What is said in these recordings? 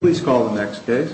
Please call the next case.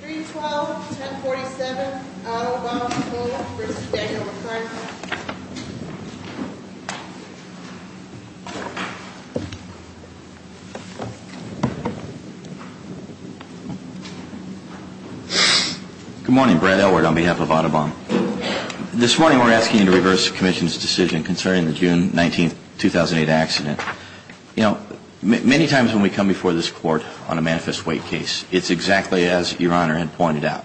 3-12-10-47 Audubon v. Daniel McCartney Good morning, Brad Edward on behalf of Audubon. This morning we're asking you to reverse the decision concerning the June 19, 2008 accident. You know, many times when we come before this Court on a manifest weight case, it's exactly as Your Honor had pointed out.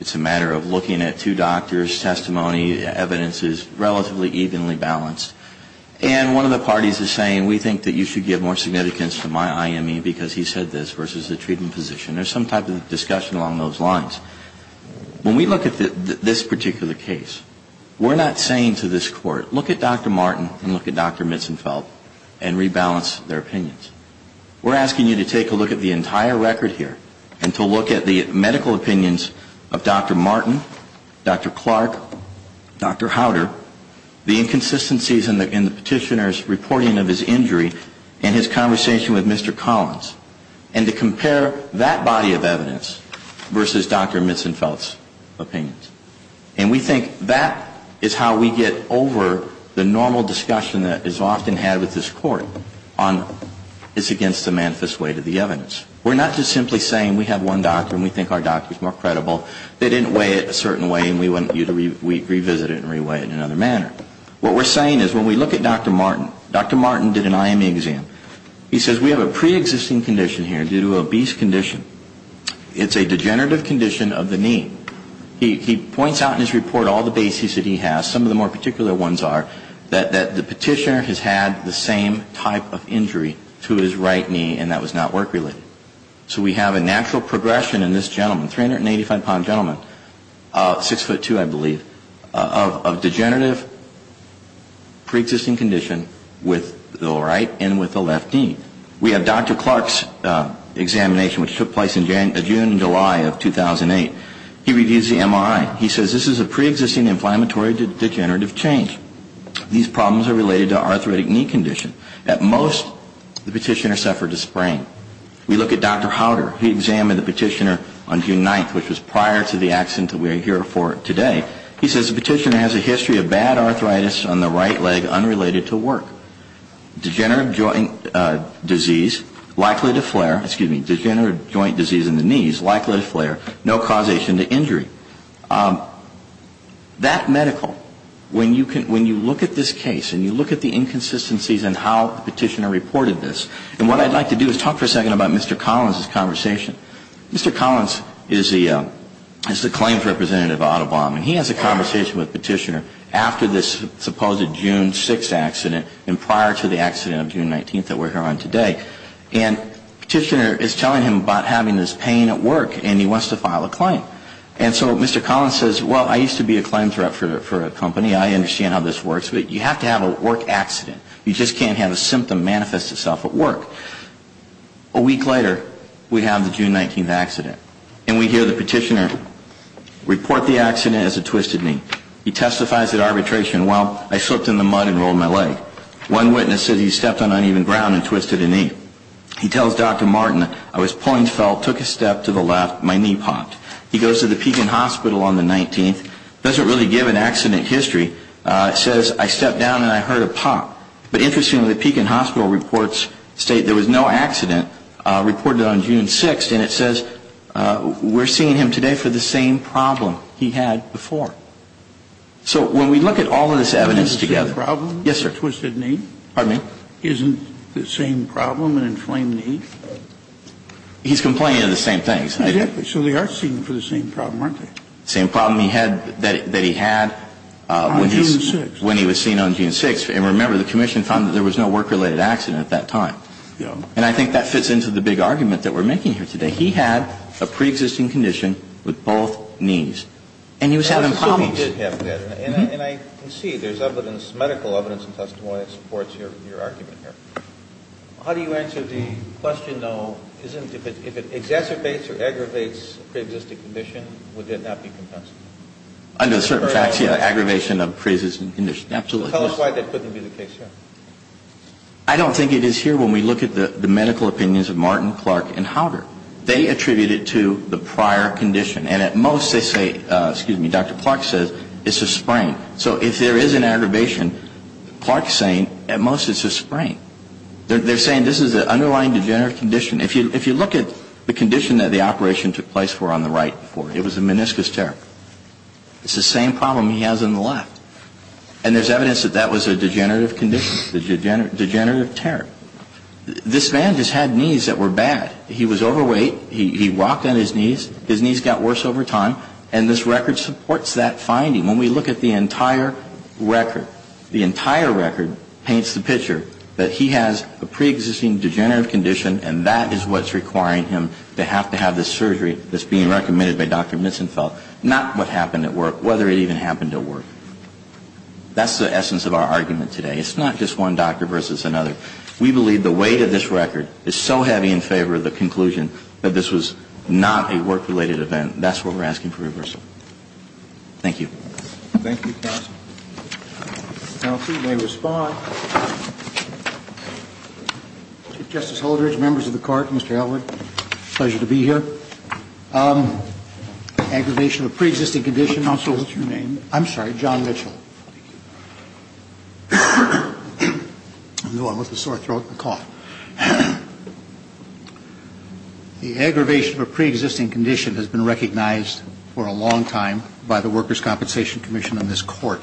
It's a matter of looking at two doctors' testimony, evidence is relatively evenly balanced. And one of the parties is saying, we think that you should give more significance to my IME because he said this versus the treatment position. There's some type of discussion along those lines. When we look at this particular case, we're not saying to this Court, look at Dr. Martin and look at Dr. Mitzenfelt and rebalance their opinions. We're asking you to take a look at the entire record here and to look at the medical opinions of Dr. Martin, Dr. Clark, Dr. Howder, the inconsistencies in the petitioner's reporting of his injury and his conversation with Mr. Collins, and to compare that body of evidence versus Dr. Martin, the normal discussion that is often had with this Court is against the manifest weight of the evidence. We're not just simply saying we have one doctor and we think our doctor is more credible. They didn't weigh it a certain way and we want you to revisit it and re-weigh it in another manner. What we're saying is when we look at Dr. Martin, Dr. Martin did an IME exam. He says we have a pre-existing condition here due to an obese condition. It's a degenerative condition of the knee. He points out in his report all the bases that he has, some of the more particular ones are, that the petitioner has had the same type of injury to his right knee and that was not work-related. So we have a natural progression in this gentleman, 385-pound gentleman, 6'2", I believe, of degenerative pre-existing condition with the right and with the left knee. We have Dr. Clark's examination which took place in June and July of 2008. He reviews the MRI. He says this is a pre-existing inflammatory degenerative change. These problems are related to arthritic knee condition. At most the petitioner suffered a sprain. We look at Dr. Howder. He examined the petitioner on June 9th, which was prior to the accident that we are here for today. He says the petitioner has a history of bad arthritis on the right leg unrelated to work. Degenerative joint disease likely to flare, excuse me, degenerative joint disease in the knees likely to flare, no causation to injury. That medical, when you look at this case and you look at the inconsistencies in how the petitioner reported this, and what I'd like to do is talk for a second about Mr. Collins' conversation. Mr. Collins is the claims representative of Audubon. He has a conversation with the petitioner after this supposed June 6th accident and prior to the accident of June 19th that happened. And the petitioner is telling him about having this pain at work and he wants to file a claim. And so Mr. Collins says, well, I used to be a claim threat for a company. I understand how this works. But you have to have a work accident. You just can't have a symptom manifest itself at work. A week later, we have the June 19th accident. And we hear the petitioner report the accident as a twisted knee. He testifies at arbitration, well, I slipped in the mud and rolled my leg. One witness said he stepped on uneven ground and twisted a knee. He tells Dr. Martin, I was pulling felt, took a step to the left, my knee popped. He goes to the Pekin Hospital on the 19th. Doesn't really give an accident history. Says, I stepped down and I heard a pop. But interestingly, the Pekin Hospital reports state there was no accident reported on June 6th. And it says we're seeing him today for the same problem he had before. So when we look at all of this evidence together. Is it the same problem? Yes, sir. Twisted knee? Pardon me? Isn't the same problem an inflamed knee? He's complaining of the same things. Exactly. So they are seen for the same problem, aren't they? Same problem he had, that he had when he was seen on June 6th. And remember, the Commission found that there was no work-related accident at that time. And I think that fits into the big argument that we're making here today. He had a preexisting condition with both knees. And he was having problems. He did have that. And I can see there's evidence, medical evidence and testimony that supports your argument here. How do you answer the question, though, if it exacerbates or aggravates a preexisting condition, would that not be compensatory? Under certain facts, yeah. Aggravation of preexisting condition. Absolutely. Tell us why that couldn't be the case here. I don't think it is here when we look at the medical opinions of Martin, Clark, and says it's a sprain. So if there is an aggravation, Clark's saying at most it's a sprain. They're saying this is an underlying degenerative condition. If you look at the condition that the operation took place for on the right, it was a meniscus tear. It's the same problem he has on the left. And there's evidence that that was a degenerative condition, a degenerative tear. This man just had knees that were bad. He was overweight. He walked on his knees. His knees got worse over time. And this record supports that finding. When we look at the entire record, the entire record paints the picture that he has a preexisting degenerative condition, and that is what's requiring him to have to have this surgery that's being recommended by Dr. Misenfeld, not what happened at work, whether it even happened at work. That's the essence of our argument today. It's not just one doctor versus another. We believe the weight of this record is so heavy in favor of the conclusion that this was not a work-related event. That's what we're asking for reversal. Thank you. Thank you, counsel. The penalty may respond. Chief Justice Holdredge, members of the Court, Mr. Elwood, pleasure to be here. Aggravation of preexisting condition. Counsel, what's your name? I'm sorry. John Mitchell. I know I'm with a sore throat and a cough. The aggravation of a preexisting condition has been recognized for a long time by the Workers' Compensation Commission in this Court.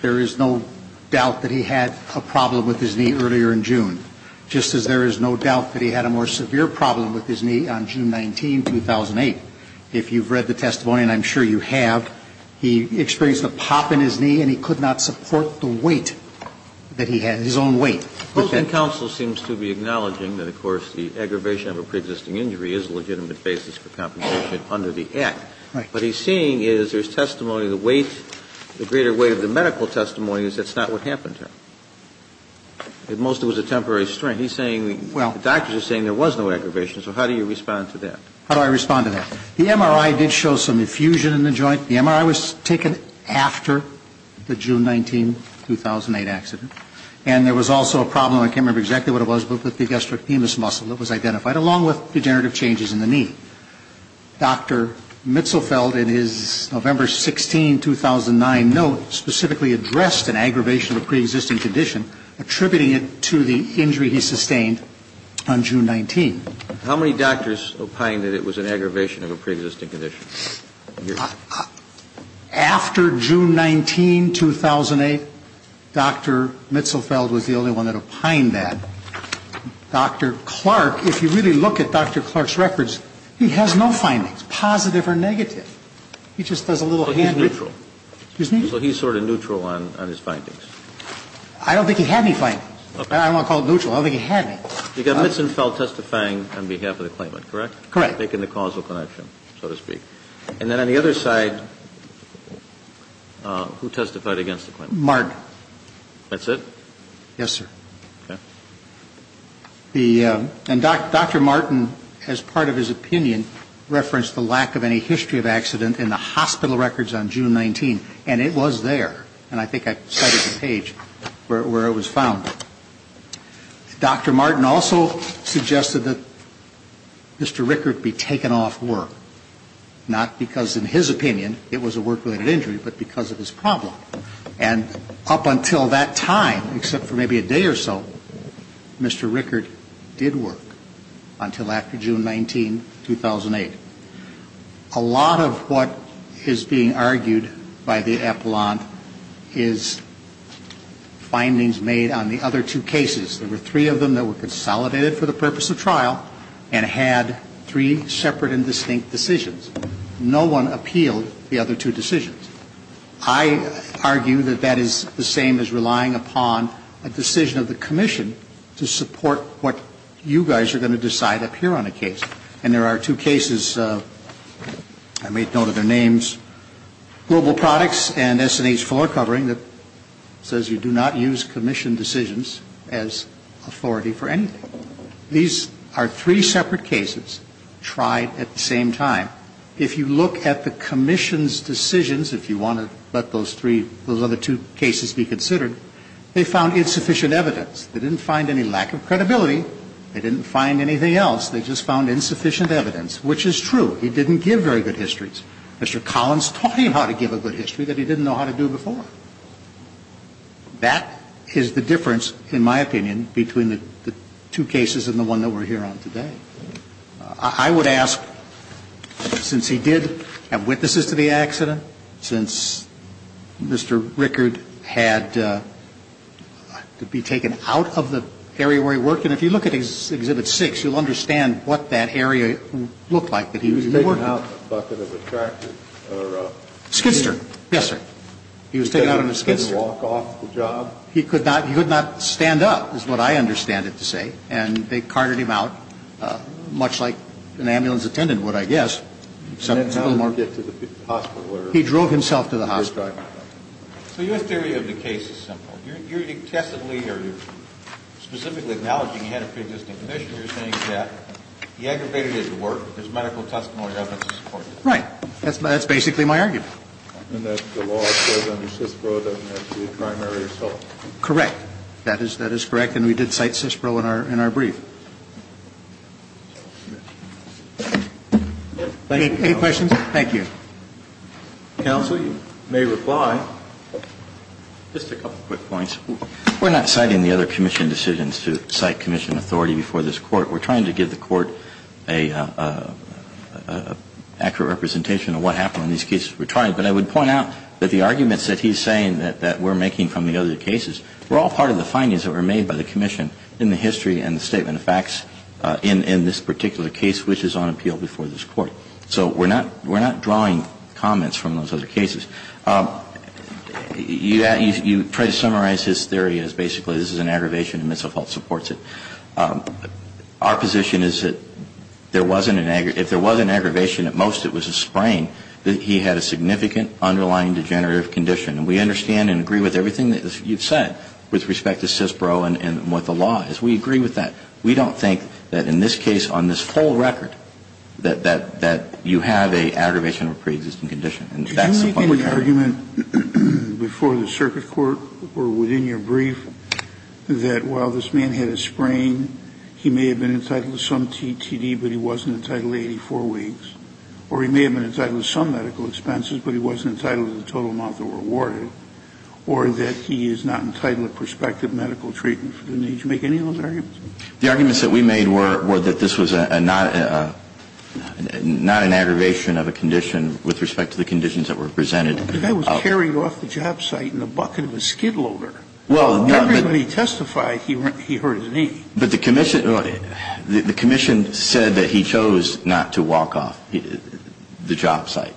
There is no doubt that he had a problem with his knee earlier in June, just as there is no doubt that he had a more severe problem with his knee on June 19, 2008. If you've read the testimony, and I'm sure you have, he experienced a pop in his knee and he could not support the weight that he had, his own weight. But then counsel seems to be acknowledging that, of course, the aggravation of a preexisting injury is a legitimate basis for compensation under the Act. Right. What he's seeing is there's testimony of the weight, the greater weight of the medical testimony is that's not what happened here. It mostly was a temporary strain. He's saying the doctors are saying there was no aggravation. So how do you respond to that? How do I respond to that? The MRI did show some effusion in the joint. The MRI was taken after the June 19, 2008 accident. And there was also a problem, I can't remember exactly what it was, but the gastrocnemius muscle that was identified, along with degenerative changes in the knee. Dr. Mitzelfeld, in his November 16, 2009 note, specifically addressed an aggravation of a preexisting condition, attributing it to the injury he sustained on June 19. How many doctors opined that it was an aggravation of a preexisting condition? After June 19, 2008, Dr. Mitzelfeld was the only one that opined that. Dr. Clark, if you really look at Dr. Clark's records, he has no findings, positive or negative. He just does a little hand reading. So he's neutral. Excuse me? So he's sort of neutral on his findings. I don't think he had any findings. I don't want to call it neutral. I don't think he had any. You got Mitzelfeld testifying on behalf of the claimant, correct? Correct. Making the causal connection, so to speak. And then on the other side, who testified against the claimant? Martin. That's it? Yes, sir. Okay. The, and Dr. Martin, as part of his opinion, referenced the lack of any history of accident in the hospital records on June 19. And it was there. And I think I cited the page where it was found. Dr. Martin also suggested that Mr. Rickert be taken off work. Not because, in his opinion, it was a work-related injury, but because of his problem. And up until that time, except for maybe a day or so, Mr. Rickert did work until after June 19, 2008. A lot of what is being argued by the appellant is findings made on the other two cases. There were three of them that were consolidated for the purpose of trial and had three separate and distinct decisions. No one appealed the other two decisions. I argue that that is the same as relying upon a decision of the commission to support what you guys are going to decide up here on a case. And there are two cases, I made note of their names, Global Products and S&H Floor Covering, that says you do not use commission decisions as authority for anything. These are three separate cases tried at the same time. If you look at the commission's decisions, if you want to let those three, those other two cases be considered, they found insufficient evidence. They didn't find any lack of evidence, which is true. He didn't give very good histories. Mr. Collins taught him how to give a good history that he didn't know how to do before. That is the difference, in my opinion, between the two cases and the one that we're here on today. I would ask, since he did have witnesses to the accident, since Mr. Rickert had to be taken out of the area where he worked, and if you look at Exhibit 6, you'll understand what that area looked like that he was working. He was taken out in a bucket of a tractor or a skidster. Skidster. Yes, sir. He was taken out in a skidster. He couldn't walk off the job. He could not stand up, is what I understand it to say. And they carted him out, much like an ambulance attendant would, I guess. And then how did he get to the hospital? He drove himself to the hospital. So your theory of the case is simple. You're testably or you're specifically acknowledging he had a pre-existing condition. You're saying that he aggravated it at work, but there's medical testimony evidence to support that. Right. That's basically my argument. And that the law says under CISPRO doesn't have to be a primary result. Correct. That is correct, and we did cite CISPRO in our brief. Any questions? Thank you. Counsel, you may reply. Just a couple quick points. We're not citing the other Commission decisions to cite Commission authority before this Court. We're trying to give the Court an accurate representation of what happened in these cases. But I would point out that the arguments that he's saying that we're making from the other cases were all part of the findings that were made by the Commission in the history and the statement of facts in this particular case, which is on appeal before this Court. So we're not drawing comments from those other cases. You try to summarize his theory as basically this is an aggravation and Mitzelfeld supports it. Our position is that if there was an aggravation, at most it was a sprain, that he had a significant underlying degenerative condition. And we understand and agree with everything that you've said with respect to CISPRO and what the law is. We agree with that. We don't think that in this case on this whole record that you have an aggravation of a pre-existing condition. And that's the public argument. Kennedy, did you make any argument before the circuit court or within your brief that while this man had a sprain, he may have been entitled to some TTD, but he wasn't entitled to 84 weeks? Or he may have been entitled to some medical expenses, but he wasn't entitled to the total amount that were awarded? Or that he is not entitled to prospective medical treatment? Did you make any of those arguments? No. Because I was carrying off the job site in the bucket of a Skid Loader. Well, not when he testified he hurt his knee. But the commission said that he chose not to walk off the job site.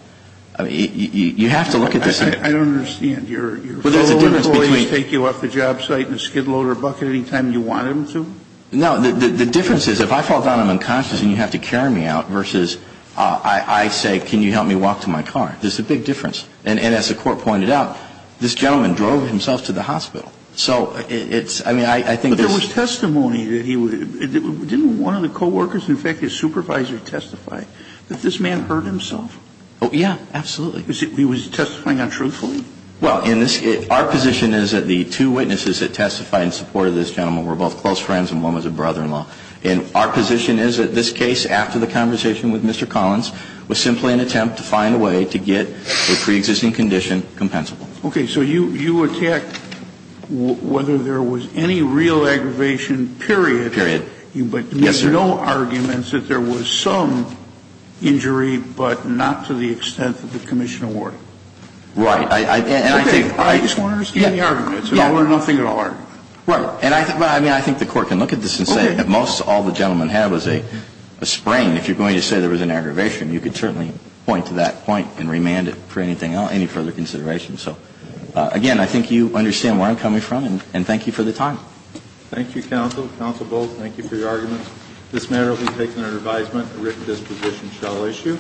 You have to look at this. I don't understand. Your employees take you off the job site in a Skid Loader bucket any time you want them to? No. The difference is if I fall down unconscious and you have to carry me out versus I say, can you help me walk? There's a big difference. And as the Court pointed out, this gentleman drove himself to the hospital. So it's – I mean, I think this – But there was testimony that he – didn't one of the co-workers, in fact his supervisor, testify that this man hurt himself? Oh, yeah. Absolutely. He was testifying untruthfully? Well, in this – our position is that the two witnesses that testified in support of this gentleman were both close friends and one was a brother-in-law. And our position is that this case, after the conversation with Mr. Collins, was simply an attempt to find a way to get the pre-existing condition compensable. Okay. So you attack whether there was any real aggravation, period. Period. Yes, sir. But no arguments that there was some injury, but not to the extent that the commission awarded. Right. And I think – Okay. I just want to understand the arguments. Yeah. I want nothing at all. Right. And I think – I mean, I think the Court can look at this and say that most all the aggravation. You could certainly point to that point and remand it for anything else, any further consideration. So, again, I think you understand where I'm coming from and thank you for the time. Thank you, counsel. Counsel Bolt, thank you for your arguments. This matter will be taken under advisement. A written disposition shall issue.